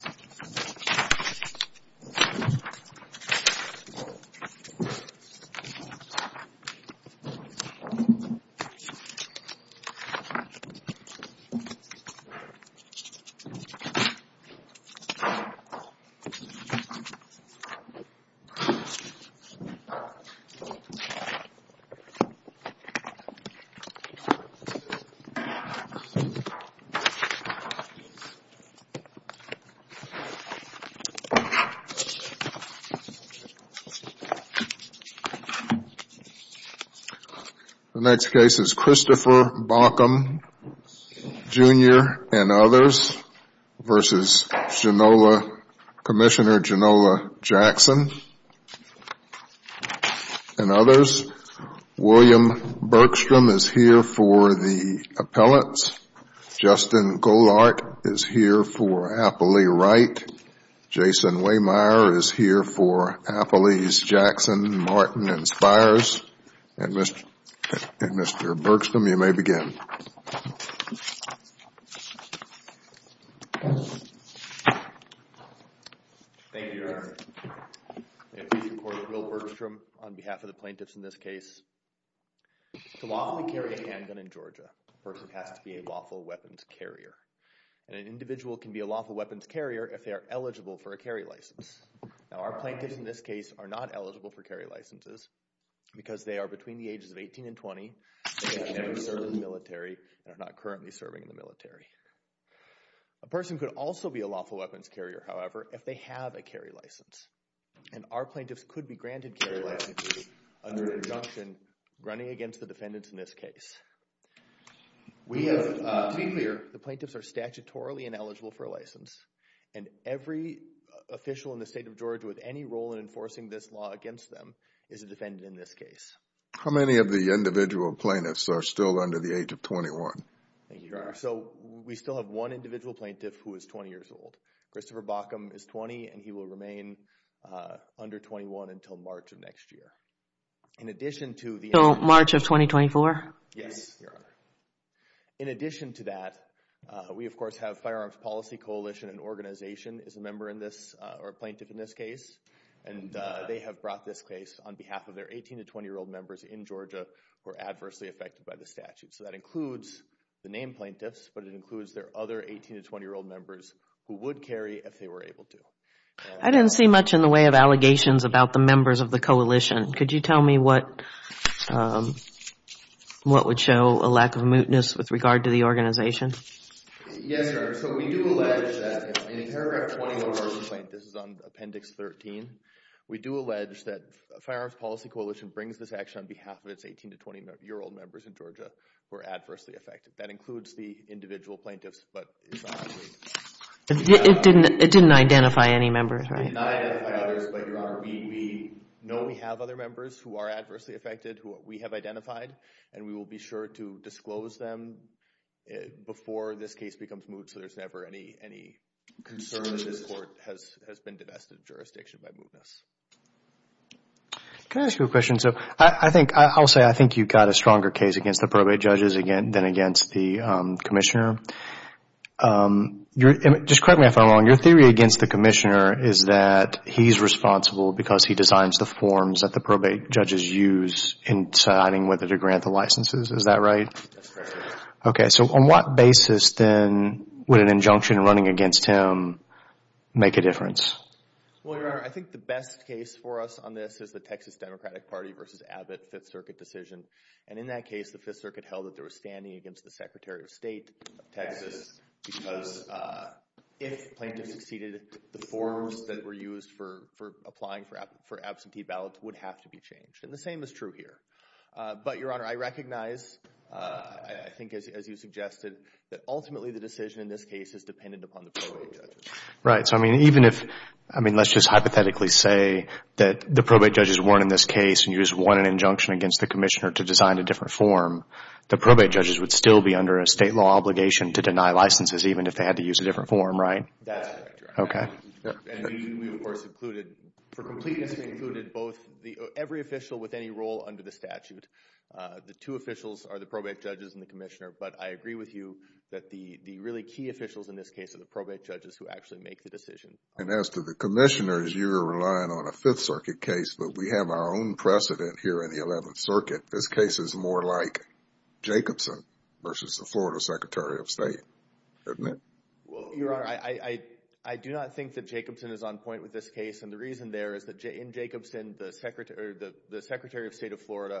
v. Fluffy The next case is Christopher Bauckham Jr. v. Commissioner Janola Jackson and others. William Bergstrom is here for the appellants. Justin Golart is here for Appley Wright. Jason Waymire is here for Appley's Jackson, Martin, and Spires. And Mr. Bergstrom, you may begin. Thank you, Your Honor. I'm here to support Will Bergstrom on behalf of the plaintiffs in this case. To lawfully carry a handgun in Georgia, a person has to be a lawful weapons carrier. And an individual can be a lawful weapons carrier if they are eligible for a carry license. Now our plaintiffs in this case are not eligible for carry licenses because they are between the ages of 18 and 20 and have never served in the military and are not currently serving in the military. A person could also be a lawful weapons carrier, however, if they have a carry license. And our plaintiffs could be granted carry licenses under an injunction running against the defendants in this case. To be clear, the plaintiffs are statutorily ineligible for a license, and every official in the state of Georgia with any role in enforcing this law against them is a defendant in this case. Our plaintiffs are still under the age of 21. Thank you, Your Honor. So we still have one individual plaintiff who is 20 years old. Christopher Baucom is 20, and he will remain under 21 until March of next year. So March of 2024? Yes, Your Honor. In addition to that, we of course have Firearms Policy Coalition and Organization is a member in this, or a plaintiff in this case. And they have brought this case on behalf of their So that includes the named plaintiffs, but it includes their other 18 to 20-year-old members who would carry if they were able to. I didn't see much in the way of allegations about the members of the coalition. Could you tell me what would show a lack of mootness with regard to the organization? Yes, Your Honor. So we do allege that in paragraph 21 of our complaint, this is on Appendix 13, we do allege that Firearms Policy Coalition brings this action on behalf of its 18 to 20-year-old members in Georgia who are adversely affected. That includes the individual plaintiffs, but it's not agreed. It didn't identify any members, right? It did not identify others, but Your Honor, we know we have other members who are adversely affected who we have identified, and we will be sure to disclose them before this case becomes moot, so there's never any concern that this court has been divested of jurisdiction by mootness. Can I ask you a question? I'll say I think you've got a stronger case against the probate judges than against the Commissioner. Just correct me if I'm wrong. Your theory against the Commissioner is that he's responsible because he designs the forms that the probate judges use in deciding whether to grant the licenses. Is that right? That's correct. Okay. So on what basis then would an injunction running against him make a difference? Well, Your Honor, I think the best case for us on this is the Texas Democratic Party versus Abbott Fifth Circuit decision, and in that case, the Fifth Circuit held that they were standing against the Secretary of State of Texas because if plaintiffs succeeded, the forms that were used for applying for absentee ballots would have to be changed, and the same is true here. But Your Honor, I recognize, I think as you suggested, that even if, I mean, let's just hypothetically say that the probate judges won in this case and you just won an injunction against the Commissioner to design a different form, the probate judges would still be under a state law obligation to deny licenses even if they had to use a different form, right? That's correct, Your Honor. Okay. And we of course included, for completeness, we included every official with any role under the statute. The two officials are the probate judges and the Commissioner, but I agree with you that the really key officials in this case are the probate judges who actually make the decision. And as to the Commissioner, you're relying on a Fifth Circuit case, but we have our own precedent here in the Eleventh Circuit. This case is more like Jacobson versus the Florida Secretary of State, isn't it? Well, Your Honor, I do not think that Jacobson is on point with this case, and the reason there is that in Jacobson, the Secretary of State of Florida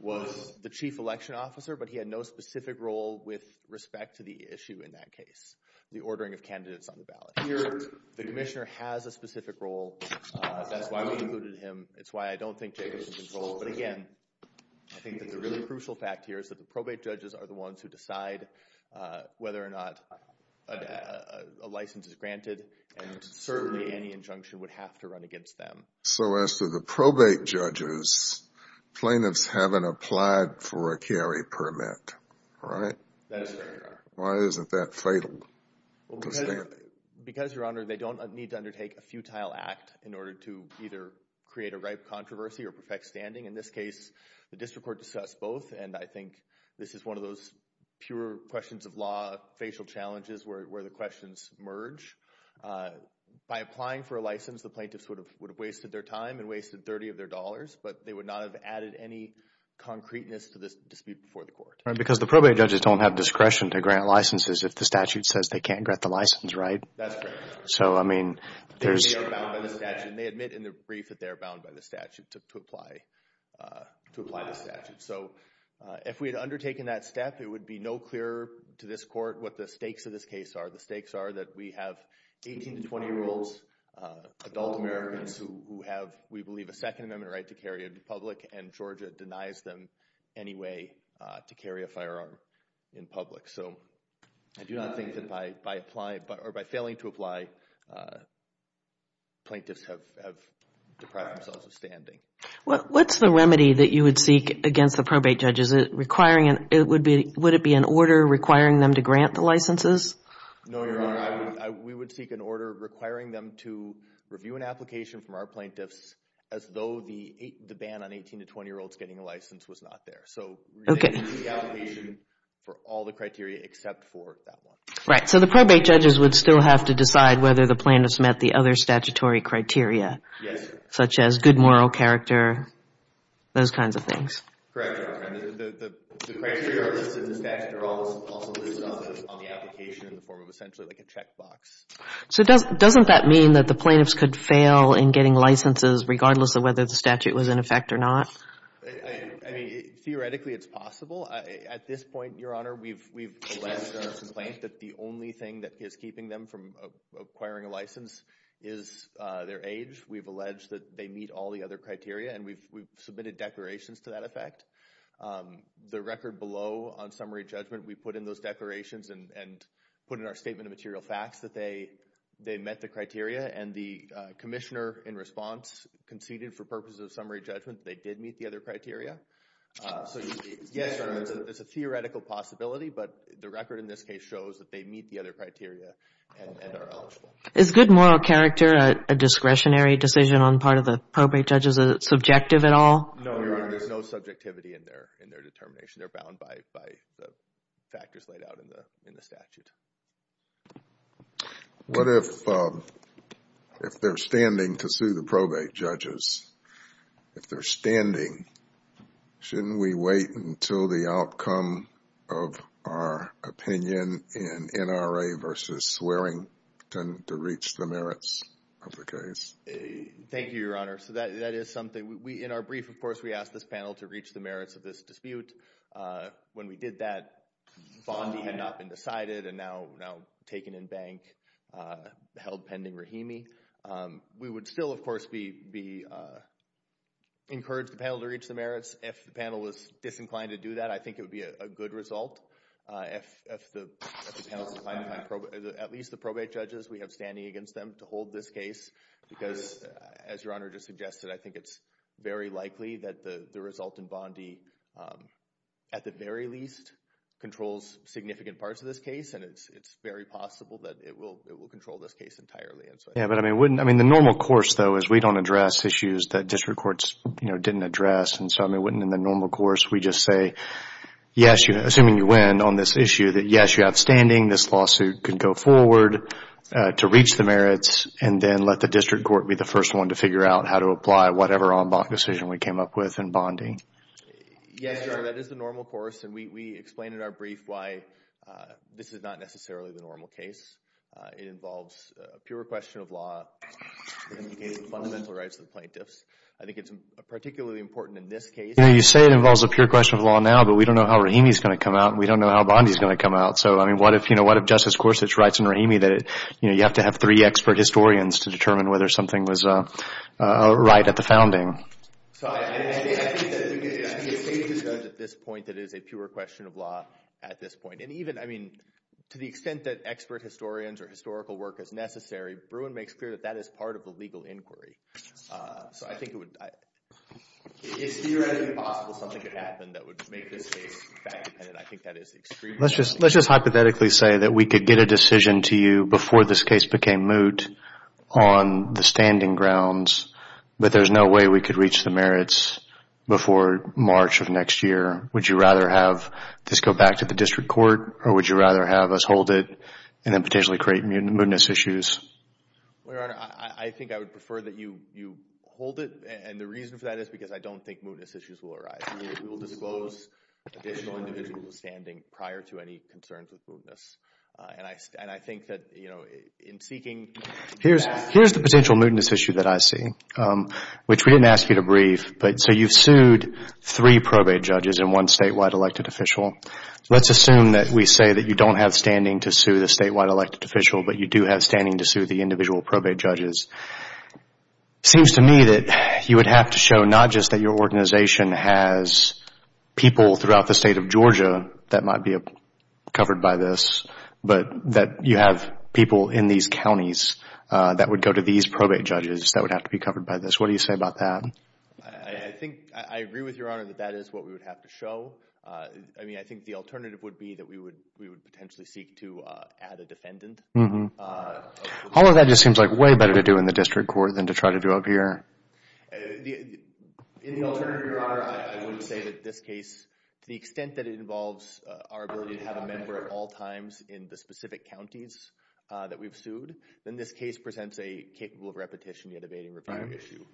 was the chief election officer, but he had no specific role with respect to the issue in that case, the ordering of candidates on the ballot. Here, the Commissioner has a specific role. That's why we included him. It's why I don't think Jacobson controls, but again, I think that the really crucial fact here is that the probate judges are the ones who decide whether or not a license is granted, and certainly any injunction would have to run against them. So as to the probate judges, plaintiffs haven't applied for a carry permit, right? Why isn't that fatal to standing? Because, Your Honor, they don't need to undertake a futile act in order to either create a ripe controversy or perfect standing. In this case, the district court discussed both, and I think this is one of those pure questions of law, facial challenges where the questions merge. By applying for a license, the plaintiffs would have wasted their time and wasted 30 of their dollars, but they would not have added any concreteness to this dispute before the court. Right, because the probate judges don't have discretion to grant licenses if the statute says they can't grant the license, right? That's correct. So, I mean, they are bound by the statute, and they admit in the brief that they are bound by the statute to apply the statute. So, if we had undertaken that step, it would be no clearer to this court what the stakes of this case are. The stakes are that we have 18 to 20-year-olds, adult Americans who have, we believe, a Second Amendment right to carry a gun in public, and Georgia denies them any way to carry a firearm in public. So, I do not think that by failing to apply, plaintiffs have deprived themselves of standing. What's the remedy that you would seek against the probate judges? Would it be an order requiring them to grant the licenses? No, Your Honor. We would seek an order requiring them to review an application from our plaintiffs as though the ban on 18 to 20-year-olds getting a license was not there. So, we would seek the application for all the criteria except for that one. Right. So, the probate judges would still have to decide whether the plaintiffs met the other statutory criteria, such as good moral character, those kinds of things. Correct, Your Honor. The criteria listed in the statute are also listed on the application in the form of essentially like a checkbox. So, doesn't that mean that the plaintiffs could fail in getting licenses regardless of whether the statute was in effect or not? I mean, theoretically, it's possible. At this point, Your Honor, we've alleged in our complaint that the only thing that is keeping them from acquiring a license is their age. We've alleged that they meet all the other criteria, and we've submitted declarations to that effect. The record below on summary judgment, we put in those declarations and put in our statement of material facts that they met the criteria, and the commissioner in response conceded for purposes of summary judgment they did meet the other criteria. So, yes, Your Honor, it's a theoretical possibility, but the record in this case shows that they meet the other subjective at all? No, Your Honor. There's no subjectivity in their determination. They're bound by the factors laid out in the statute. What if they're standing to sue the probate judges? If they're standing, shouldn't we wait until the outcome of our opinion in NRA versus Swearington to reach the merits of the case? Thank you, Your Honor. So that is something. In our brief, of course, we asked this panel to reach the merits of this dispute. When we did that, Bondi had not been decided and now taken in bank, held pending Rahimi. We would still, of course, encourage the panel to reach the merits. If the panel was disinclined to do that, I think it would be a good result. At least the probate judges, we have standing against them to hold this case because, as Your Honor just suggested, I think it's very likely that the result in Bondi, at the very least, controls significant parts of this case and it's very possible that it will control this case entirely. The normal course, though, is we don't address issues that district courts didn't address. In the normal course, we just say, assuming you win on this issue, that yes, you have standing, this lawsuit can go forward to reach the merits, and then let the district court be the first one to figure out how to apply whatever en banc decision we came up with in Bondi. Yes, Your Honor, that is the normal course. We explain in our brief why this is not necessarily the normal case. It involves a pure question of law, fundamental rights of the plaintiffs. I think it's particularly important in this case. You say it involves a pure question of law now, but we don't know how Rahimi is going to come out, and we don't know how Bondi is going to come out. So, I mean, what if Justice Gorsuch writes in Rahimi that you have to have three expert historians to determine whether something was right at the founding? I think it's safe to judge at this point that it is a pure question of law at this point. And even, I mean, to the extent that expert historians or historical work is necessary, Bruin makes clear that that is part of the legal inquiry. So I think it would... It's theoretically possible something could happen that would make this case fact-dependent. I think that is extremely... Let's just hypothetically say that we could get a decision to you before this case became moot on the standing grounds, but there's no way we could reach the merits before March of next year. Would you rather have this go back to the district court, or would you rather have us hold it and then potentially create mootness issues? Well, Your Honor, I think I would prefer that you hold it, and the reason for that is because I don't think mootness issues will arise. We will disclose additional individuals standing prior to any concerns with mootness. And I think that, you know, in seeking... Here's the potential mootness issue that I see, which we didn't ask you to brief. So you've sued three probate judges and one statewide elected official. Let's assume that we say that you don't have standing to sue the statewide elected official, but you do have standing to sue the individual probate judges. It seems to me that you would have to show not just that your organization has people throughout the state of Georgia that might be covered by this, but that you have people in these counties that would go to these probate judges that would have to be covered by this. What do you say about that? I think I agree with Your Honor that that is what we would have to show. I mean, I think the alternative would be that we would potentially seek to add a defendant. All of that just seems like way better to do in the district court than to try to do up here. In the alternative, Your Honor, I would say that this case, to the extent that it involves our ability to have a member at all times in the specific counties that we've sued, then this case presents a capable of repetition yet evading review issue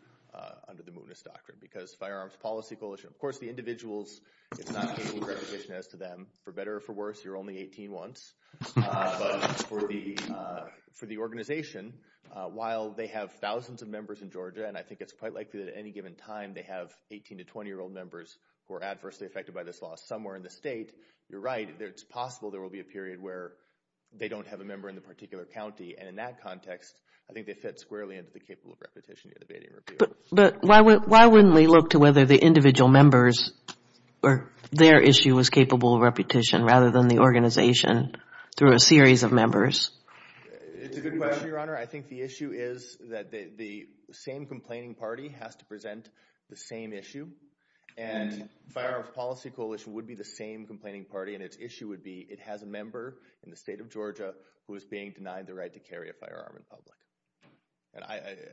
under the Munis Doctrine because Firearms Policy Coalition, of course, the individuals, it's not capable of repetition as to them. For better or for worse, you're only 18 once. But for the organization, while they have thousands of members in Georgia, and I think it's quite likely that at any given time they have 18 to 20-year-old members who are adversely affected by this law somewhere in the state, you're right. It's possible there will be a period where they don't have a member in the particular county and in that context, I think they fit squarely into the capable of repetition yet evading review. But why wouldn't they look to whether the individual members or their issue was capable of repetition rather than the organization through a series of members? It's a good question, Your Honor. I think the issue is that the same complaining party has to present the same issue. And Firearms Policy Coalition would be the same complaining party, and its issue would be it has a member in the state of Georgia who is being denied the right to carry a firearm in public. And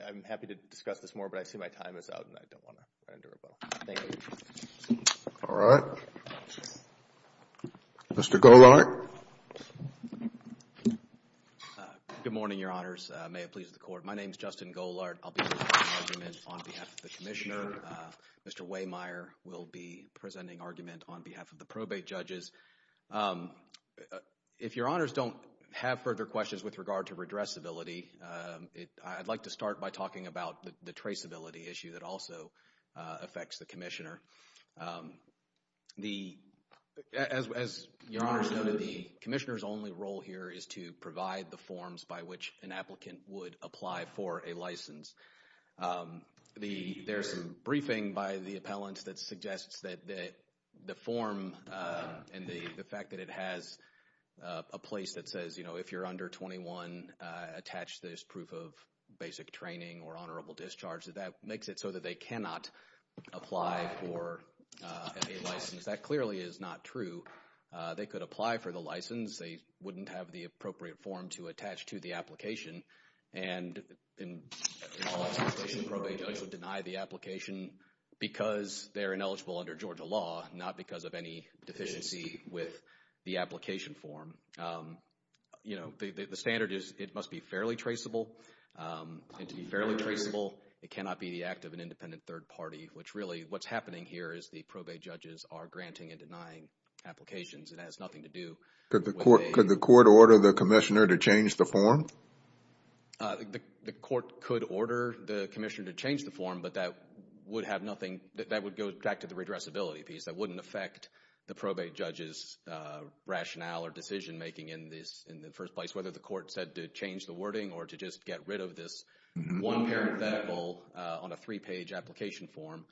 I'm happy to discuss this more, but I see my time is out and I don't want to render a vote. Thank you. All right. Mr. Golart. Good morning, Your Honors. May it please the Court. My name is Justin Golart. I'll be presenting argument on behalf of the Commissioner. Mr. Waymeyer will be presenting argument on behalf of the probate judges. If Your Honors don't have further questions with regard to redressability, I'd like to start by talking about the traceability issue that also affects the Commissioner. As Your Honors noted, the Commissioner's only role here is to provide the forms by which an applicant would apply for a license. There's a briefing by the appellant that suggests that the form and the fact that it has a place that says, you know, if you're under 21, attach this proof of basic training or honorable discharge, that that makes it so that they cannot apply for a license. That clearly is not true. They could apply for the license. They wouldn't have the appropriate form to attach to the application. And in all its application, the probate judge would deny the application because they're ineligible under Georgia law, not because of any deficiency with the application form. You know, the standard is it must be fairly traceable. And to be fairly traceable, it cannot be the act of an independent third party, which really what's happening here is the probate judges are granting and denying applications. It has nothing to do with a- Could the Court order the Commissioner to change the form? The Court could order the Commissioner to change the form, but that would have nothing, that would go back to the redressability piece. That wouldn't affect the probate judge's rationale or decision making in this, in the first place, whether the Court said to change the wording or to just get rid of this one parenthetical on a three-page application form.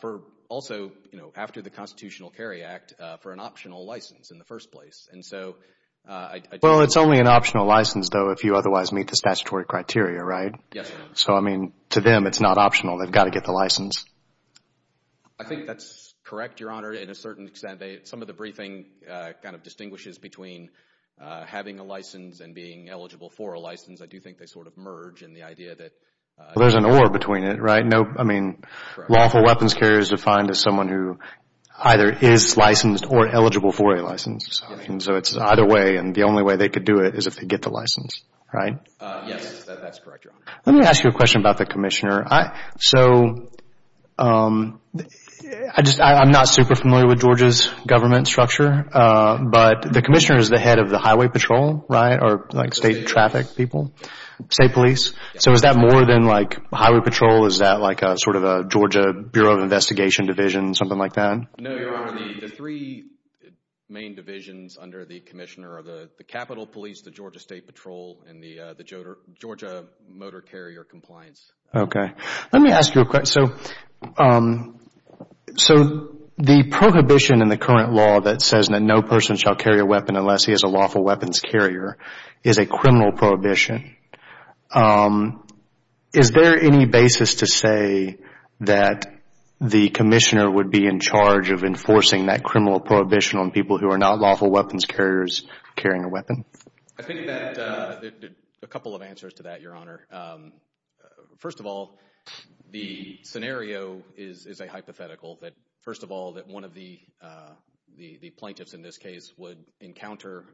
For also, you know, after the Constitutional Carry Act, for an optional license in the first place. Well, it's only an optional license, though, if you otherwise meet the statutory criteria, right? Yes, Your Honor. So, I mean, to them it's not optional. They've got to get the license. I think that's correct, Your Honor, in a certain extent. Some of the briefing kind of distinguishes between having a license and being eligible for a license. I do think they sort of merge in the idea that- Well, there's an or between it, right? I mean, lawful weapons carrier is defined as someone who either is licensed or eligible for a license. So, it's either way, and the only way they could do it is if they get the license, right? Yes, that's correct, Your Honor. Let me ask you a question about the commissioner. So, I just, I'm not super familiar with Georgia's government structure, but the commissioner is the head of the highway patrol, right, or like state traffic people, state police. So, is that more than like highway patrol? Is that like sort of a Georgia Bureau of Investigation division, something like that? No, Your Honor. The three main divisions under the commissioner are the Capitol Police, the Georgia State Patrol, and the Georgia Motor Carrier Compliance. Okay. Let me ask you a question. So, the prohibition in the current law that says that no person shall carry a weapon unless he is a lawful weapons carrier is a criminal prohibition. Is there any basis to say that the commissioner would be in charge of enforcing that criminal prohibition on people who are not lawful weapons carriers carrying a weapon? I think that there are a couple of answers to that, Your Honor. First of all, the scenario is a hypothetical. First of all, that one of the plaintiffs in this case would encounter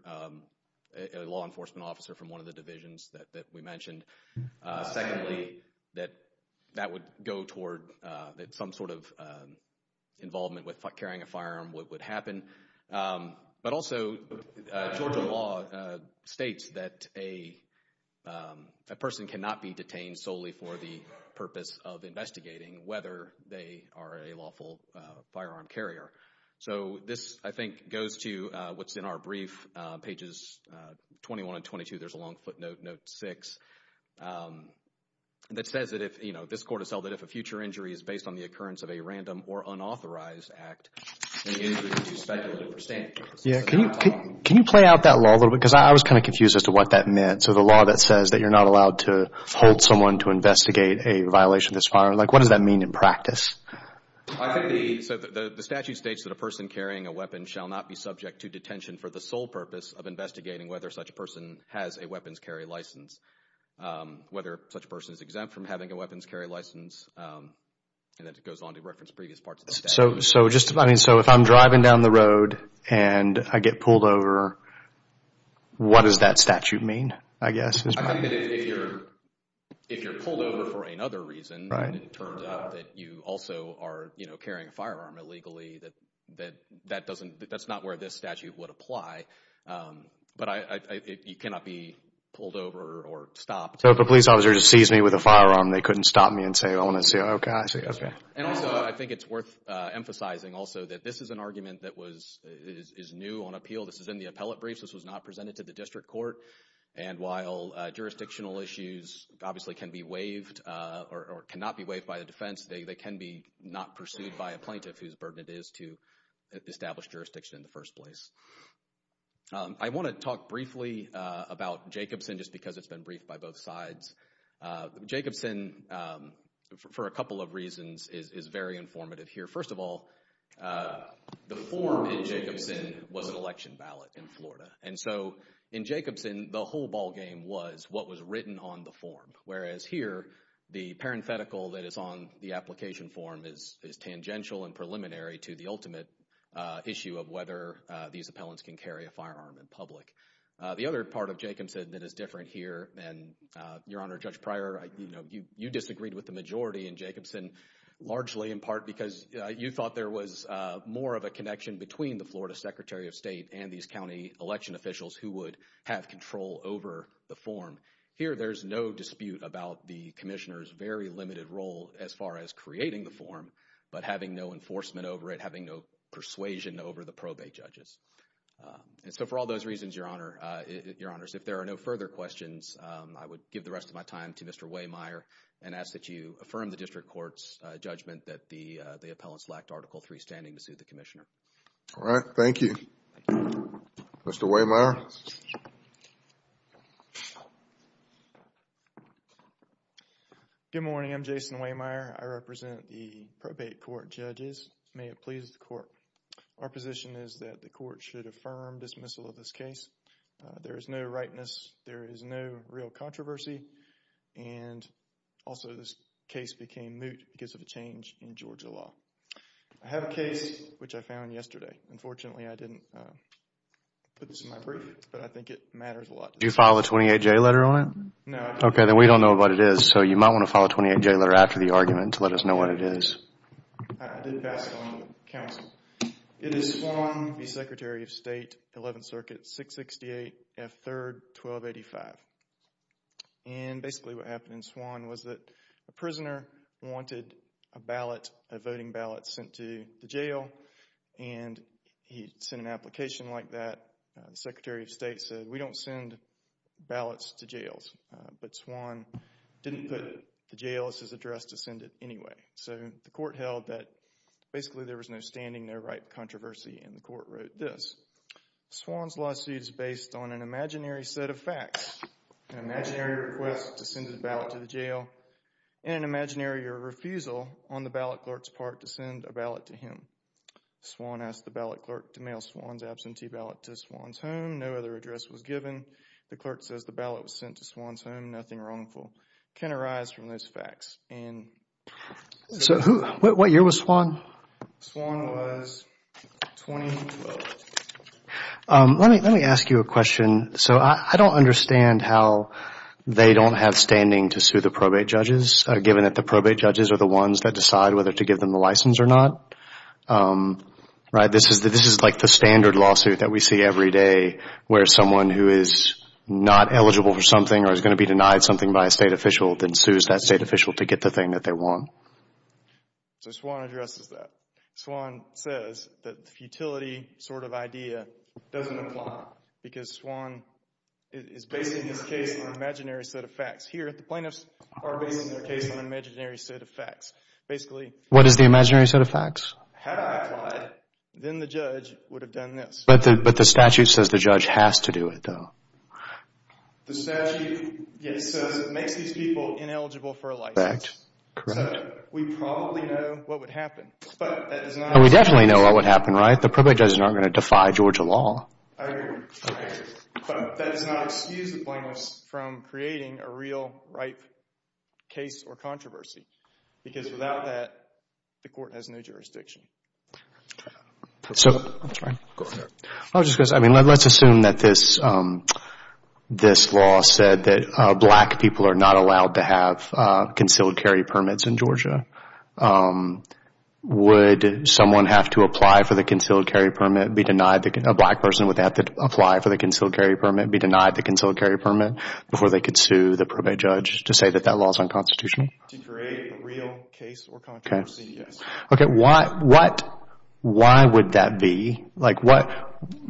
a law enforcement officer from one of the divisions that we mentioned. Secondly, that that would go toward some sort of involvement with carrying a firearm would happen. But also, Georgia law states that a person cannot be detained solely for the purpose of investigating whether they are a lawful firearm carrier. So, this, I think, goes to what's in our brief, pages 21 and 22. There's a long footnote, note 6, that says that if, you know, this court has held that if a future injury is based on the occurrence of a random or unauthorized act, then the injury would be speculated for standing. Yeah. Can you play out that law a little bit? Because I was kind of confused as to what that meant. So, the law that says that you're not allowed to hold someone to investigate a violation of this firearm. Like, what does that mean in practice? I think the statute states that a person carrying a weapon shall not be subject to detention for the sole purpose of investigating whether such a person has a weapons carry license, whether such a person is exempt from having a weapons carry license, and then it goes on to reference previous parts of the statute. So, if I'm driving down the road and I get pulled over, what does that statute mean, I guess? I think that if you're pulled over for another reason, and it turns out that you also are, you know, carrying a firearm illegally, that that doesn't, that's not where this statute would apply. But you cannot be pulled over or stopped. So, if a police officer sees me with a firearm, they couldn't stop me and say, oh, gosh. And also, I think it's worth emphasizing also that this is an argument that is new on appeal. This is in the appellate briefs. This was not presented to the district court. And while jurisdictional issues obviously can be waived or cannot be waived by the defense, they can be not pursued by a plaintiff whose burden it is to establish jurisdiction in the first place. I want to talk briefly about Jacobson just because it's been briefed by both sides. Jacobson, for a couple of reasons, is very informative here. First of all, the form in Jacobson was an election ballot in Florida. And so, in Jacobson, the whole ballgame was what was written on the form. Whereas here, the parenthetical that is on the application form is tangential and preliminary to the ultimate issue of whether these appellants can carry a firearm in public. The other part of Jacobson that is different here, and, Your Honor, Judge Pryor, you disagreed with the majority in Jacobson, largely in part because you thought there was more of a connection between the Florida Secretary of State and these county election officials who would have control over the form. Here, there's no dispute about the commissioner's very limited role as far as creating the form, but having no enforcement over it, having no persuasion over the probate judges. And so, for all those reasons, Your Honor, if there are no further questions, I would give the rest of my time to Mr. Waymire and ask that you affirm the district court's judgment that the appellants lacked Article III standing to sue the commissioner. All right. Thank you. Mr. Waymire. Good morning. I'm Jason Waymire. I represent the probate court judges. May it please the court. Our position is that the court should affirm dismissal of this case. There is no rightness. There is no real controversy. And also, this case became moot because of a change in Georgia law. I have a case which I found yesterday. Unfortunately, I didn't put this in my brief, but I think it matters a lot. Did you file a 28-J letter on it? No. Okay. Then we don't know what it is, so you might want to file a 28-J letter after the argument to let us know what it is. I did pass it on to the counsel. It is Swann v. Secretary of State, 11th Circuit, 668 F. 3rd, 1285. And basically what happened in Swann was that a prisoner wanted a ballot, a voting ballot sent to the jail, and he sent an application like that. The Secretary of State said, we don't send ballots to jails. But Swann didn't put the jail as his address to send it anyway. So the court held that basically there was no standing, no right controversy, and the court wrote this. Swann's lawsuit is based on an imaginary set of facts. An imaginary request to send a ballot to the jail and an imaginary refusal on the ballot clerk's part to send a ballot to him. Swann asked the ballot clerk to mail Swann's absentee ballot to Swann's home. No other address was given. The clerk says the ballot was sent to Swann's home. Nothing wrongful can arise from those facts. So what year was Swann? Swann was 2012. Let me ask you a question. So I don't understand how they don't have standing to sue the probate judges given that the probate judges are the ones that decide whether to give them the license or not, right? This is like the standard lawsuit that we see every day where someone who is not eligible for something or is going to be denied something by a state official then sues that state official to get the thing that they want. So Swann addresses that. Swann says that the futility sort of idea doesn't apply because Swann is basing his case on an imaginary set of facts. Here, the plaintiffs are basing their case on an imaginary set of facts. What is the imaginary set of facts? Had I applied, then the judge would have done this. But the statute says the judge has to do it, though. The statute makes these people ineligible for a license. Correct. So we probably know what would happen. We definitely know what would happen, right? The probate judges aren't going to defy Georgia law. I agree with you. But that does not excuse the plaintiffs from creating a real, ripe case or controversy because without that, the court has no jurisdiction. I'm sorry. Go ahead. I was just going to say, let's assume that this law said that black people are not allowed to have concealed carry permits in Georgia. Would someone have to apply for the concealed carry permit, a black person would have to apply for the concealed carry permit, be denied the concealed carry permit before they could sue the probate judge to say that that law is unconstitutional? To create a real case or controversy, yes. Okay. Why would that be? I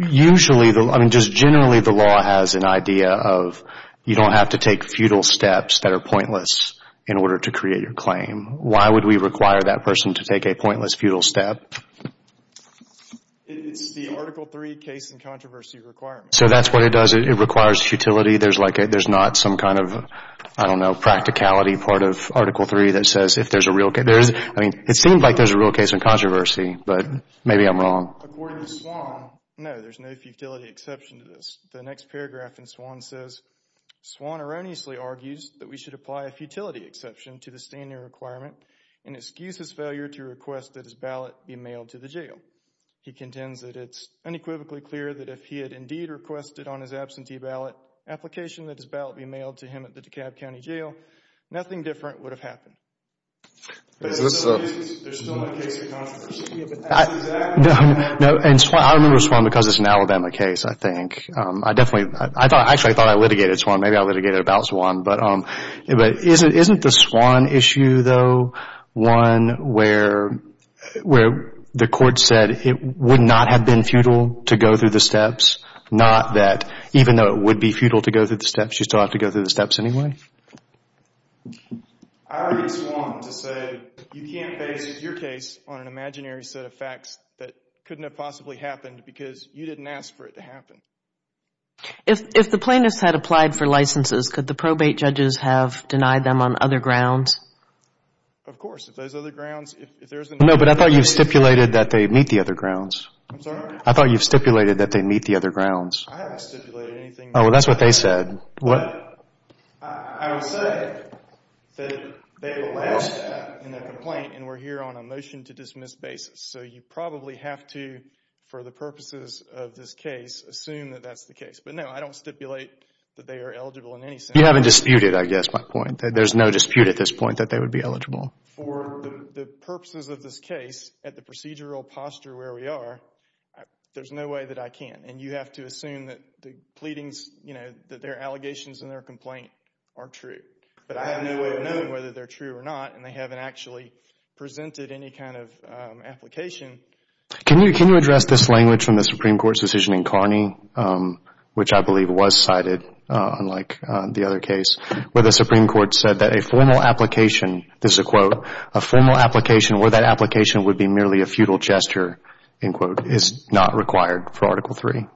mean, just generally the law has an idea of you don't have to take futile steps that are pointless in order to create your claim. Why would we require that person to take a pointless, futile step? It's the Article III case and controversy requirement. So that's what it does. It requires futility. There's not some kind of, I don't know, practicality part of Article III that says if there's a real case. I mean, it seems like there's a real case in controversy, but maybe I'm wrong. According to Swan, no, there's no futility exception to this. The next paragraph in Swan says, Swan erroneously argues that we should apply a futility exception to the standing requirement and excuse his failure to request that his ballot be mailed to the jail. He contends that it's unequivocally clear that if he had indeed requested on his absentee ballot application that his ballot be mailed to him at the DeKalb County Jail, nothing different would have happened. There's still no case in controversy. No, and I remember Swan because it's an Alabama case, I think. Actually, I thought I litigated Swan. Maybe I litigated about Swan, but isn't the Swan issue, though, one where the court said it would not have been futile to go through the steps, not that even though it would be futile to go through the steps, you still have to go through the steps anyway? I argue Swan to say you can't base your case on an imaginary set of facts that couldn't have possibly happened because you didn't ask for it to happen. If the plaintiffs had applied for licenses, could the probate judges have denied them on other grounds? Of course, if there's other grounds. No, but I thought you stipulated that they meet the other grounds. I'm sorry? I thought you stipulated that they meet the other grounds. I haven't stipulated anything. Oh, well, that's what they said. What? I would say that they will last in their complaint and we're here on a motion to dismiss basis. So you probably have to, for the purposes of this case, assume that that's the case. But no, I don't stipulate that they are eligible in any sense. You haven't disputed, I guess, my point. There's no dispute at this point that they would be eligible. For the purposes of this case, at the procedural posture where we are, there's no way that I can. And you have to assume that the pleadings, that their allegations and their complaint are true. But I have no way of knowing whether they're true or not, and they haven't actually presented any kind of application. Can you address this language from the Supreme Court's decision in Carney, which I believe was cited, unlike the other case, where the Supreme Court said that a formal application, this is a quote, a formal application where that application would be merely a futile gesture, is not required for Article III?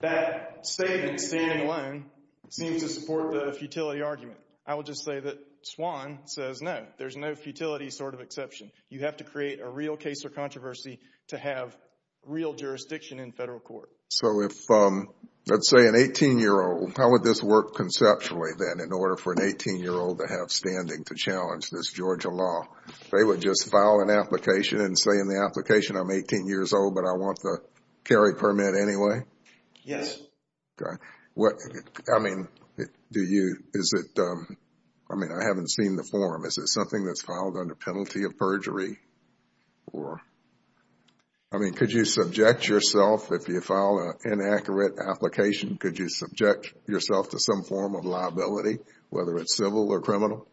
That statement, standing alone, seems to support the futility argument. I would just say that Swann says no. There's no futility sort of exception. You have to create a real case or controversy to have real jurisdiction in federal court. So if, let's say, an 18-year-old, how would this work conceptually, then, in order for an 18-year-old to have standing to challenge this Georgia law? They would just file an application and say in the application, I'm 18 years old, but I want the carry permit anyway? Yes. Okay. I mean, do you, is it, I mean, I haven't seen the form. Is it something that's filed under penalty of perjury? I mean, could you subject yourself, if you file an inaccurate application, could you subject yourself to some form of liability, whether it's civil or criminal?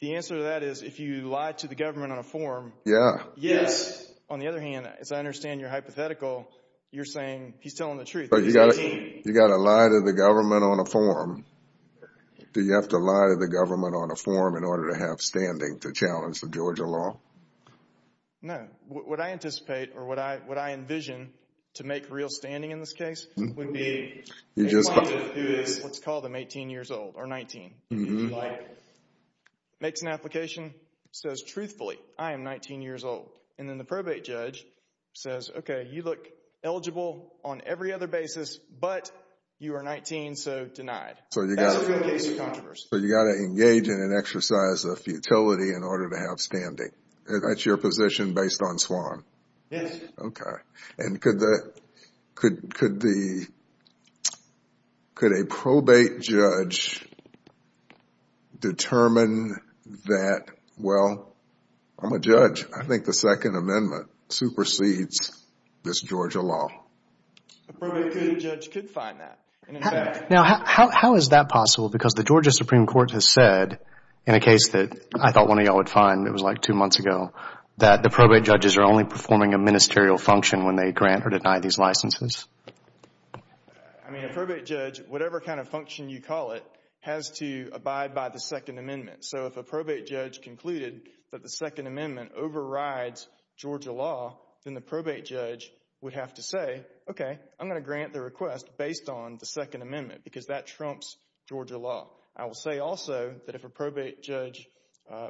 The answer to that is if you lie to the government on a form. Yeah. Yes. On the other hand, as I understand your hypothetical, you're saying he's telling the truth. He's 18. You've got to lie to the government on a form. Do you have to lie to the government on a form in order to have standing to challenge the Georgia law? No. What I anticipate or what I envision to make real standing in this case would be a client who is, let's call them 18 years old or 19, makes an application, says truthfully, I am 19 years old, and then the probate judge says, okay, you look eligible on every other basis, but you are 19, so denied. That's a good case of controversy. So you've got to engage in an exercise of futility in order to have standing. That's your position based on SWAN? Yes. Okay. And could a probate judge determine that, well, I'm a judge. I think the Second Amendment supersedes this Georgia law. A probate judge could find that. Now, how is that possible? Because the Georgia Supreme Court has said in a case that I thought one of you all would find, it was like two months ago, that the probate judges are only performing a ministerial function when they grant or deny these licenses. I mean, a probate judge, whatever kind of function you call it, has to abide by the Second Amendment. So if a probate judge concluded that the Second Amendment overrides Georgia law, then the probate judge would have to say, okay, I'm going to grant the request based on the Second Amendment because that trumps Georgia law. I will say also that if a probate judge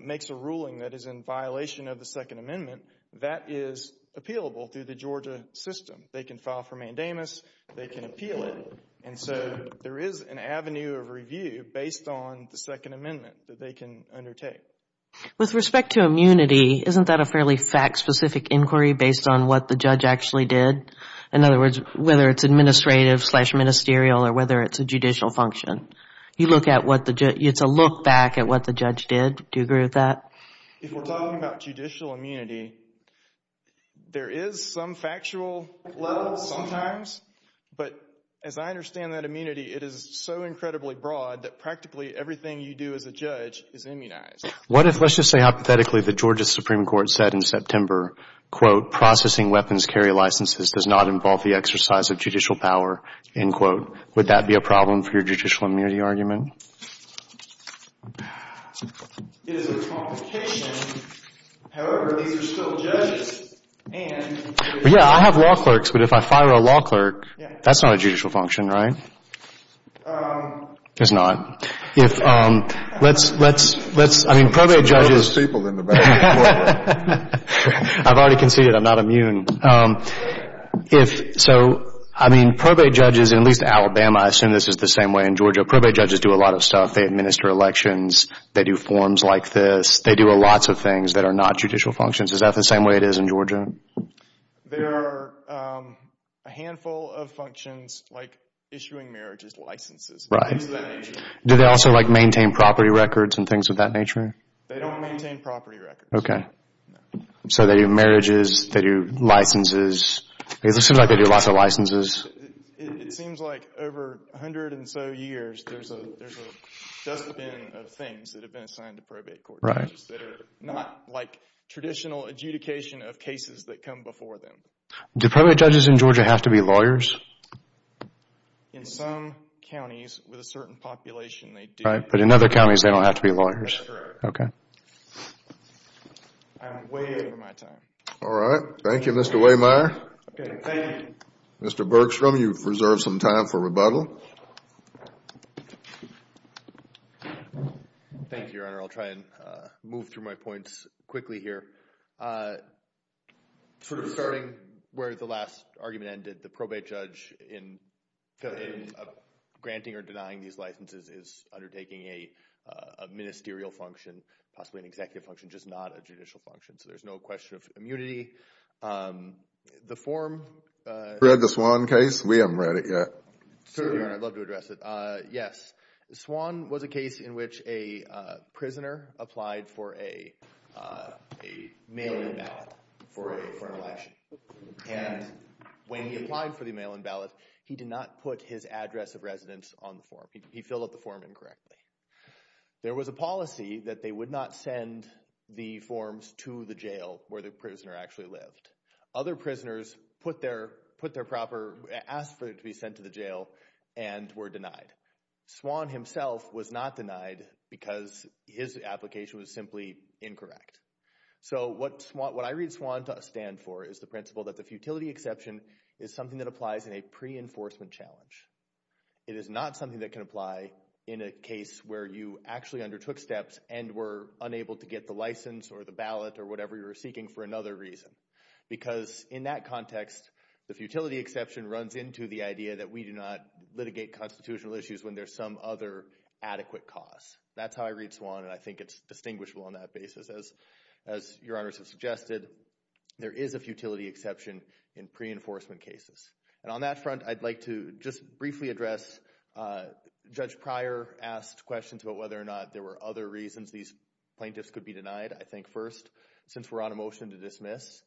makes a ruling that is in violation of the Second Amendment, that is appealable through the Georgia system. They can file for mandamus. They can appeal it. And so there is an avenue of review based on the Second Amendment that they can undertake. With respect to immunity, isn't that a fairly fact-specific inquiry based on what the judge actually did? In other words, whether it's administrative slash ministerial or whether it's a judicial function. It's a look back at what the judge did. Do you agree with that? If we're talking about judicial immunity, there is some factual level sometimes. But as I understand that immunity, it is so incredibly broad that practically everything you do as a judge is immunized. What if, let's just say hypothetically, the Georgia Supreme Court said in September, quote, processing weapons carry licenses does not involve the exercise of judicial power, end quote. Would that be a problem for your judicial immunity argument? It is a complication. However, these are still judges. Yeah, I have law clerks. But if I fire a law clerk, that's not a judicial function, right? It's not. Let's, I mean, probate judges. I've already conceded I'm not immune. So, I mean, probate judges, at least in Alabama, I assume this is the same way in Georgia, probate judges do a lot of stuff. They administer elections. They do forms like this. They do lots of things that are not judicial functions. Is that the same way it is in Georgia? There are a handful of functions like issuing marriages licenses. Do they also maintain property records and things of that nature? They don't maintain property records. Okay. So they do marriages. They do licenses. It seems like they do lots of licenses. It seems like over a hundred and so years, there's a dustbin of things that have been assigned to probate court judges that are not like traditional adjudication of cases that come before them. Do probate judges in Georgia have to be lawyers? In some counties with a certain population, they do. Right, but in other counties, they don't have to be lawyers. Correct. Okay. I'm way over my time. All right. Thank you, Mr. Wehmeyer. Okay. Thank you. Mr. Bergstrom, you've reserved some time for rebuttal. Thank you, Your Honor. I'll try and move through my points quickly here. Sort of starting where the last argument ended, the probate judge in granting or denying these licenses is undertaking a ministerial function, possibly an executive function, just not a judicial function, so there's no question of immunity. The form… Have you read the Swan case? We haven't read it yet. Certainly, Your Honor. I'd love to address it. Yes. Swan was a case in which a prisoner applied for a mail-in ballot for an election, and when he applied for the mail-in ballot, he did not put his address of residence on the form. He filled out the form incorrectly. There was a policy that they would not send the forms to the jail where the prisoner actually lived. Other prisoners put their proper… asked for it to be sent to the jail and were denied. Swan himself was not denied because his application was simply incorrect. So what I read Swan to stand for is the principle that the futility exception is something that applies in a pre-enforcement challenge. It is not something that can apply in a case where you actually undertook steps and were unable to get the license or the ballot or whatever you were seeking for another reason because in that context, the futility exception runs into the idea that we do not litigate constitutional issues when there's some other adequate cause. That's how I read Swan, and I think it's distinguishable on that basis. As Your Honors have suggested, there is a futility exception in pre-enforcement cases. And on that front, I'd like to just briefly address… Judge Pryor asked questions about whether or not there were other reasons these plaintiffs could be denied. I think first, since we're on a motion to dismiss,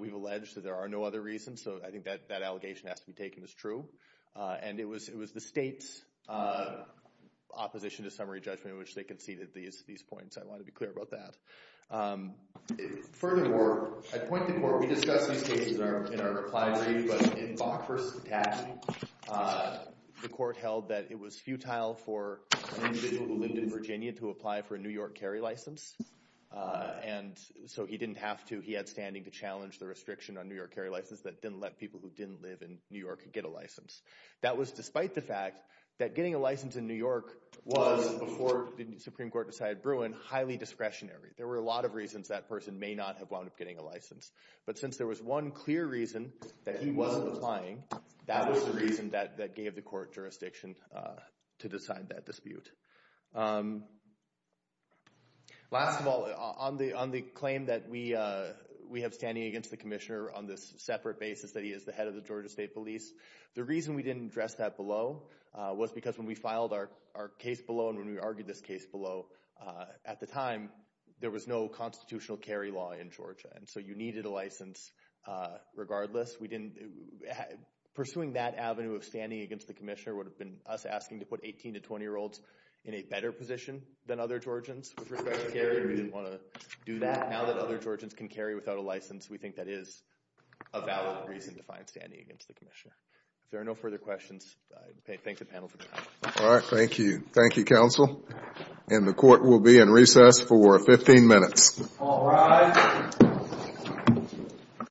we've alleged that there are no other reasons, so I think that that allegation has to be taken as true. And it was the state's opposition to summary judgment in which they conceded these points. I want to be clear about that. Furthermore, I'd point the court. We discussed these cases in our reply brief, but in Bach v. Cattani, the court held that it was futile for an individual who lived in Virginia to apply for a New York carry license. And so he didn't have to. He had standing to challenge the restriction on New York carry license that didn't let people who didn't live in New York get a license. That was despite the fact that getting a license in New York was, before the Supreme Court decided Bruin, highly discretionary. There were a lot of reasons that person may not have wound up getting a license. But since there was one clear reason that he wasn't applying, that was the reason that gave the court jurisdiction to decide that dispute. Last of all, on the claim that we have standing against the commissioner on this separate basis that he is the head of the Georgia State Police, the reason we didn't address that below was because when we filed our case below and when we argued this case below, at the time, there was no constitutional carry law in Georgia. And so you needed a license regardless. Pursuing that avenue of standing against the commissioner would have been us asking to put 18 to 20-year-olds in a better position than other Georgians with respect to carry. We didn't want to do that. Now that other Georgians can carry without a license, we think that is a valid reason to find standing against the commissioner. If there are no further questions, I thank the panel for their time. All right. Thank you. Thank you, counsel. And the court will be in recess for 15 minutes. All rise.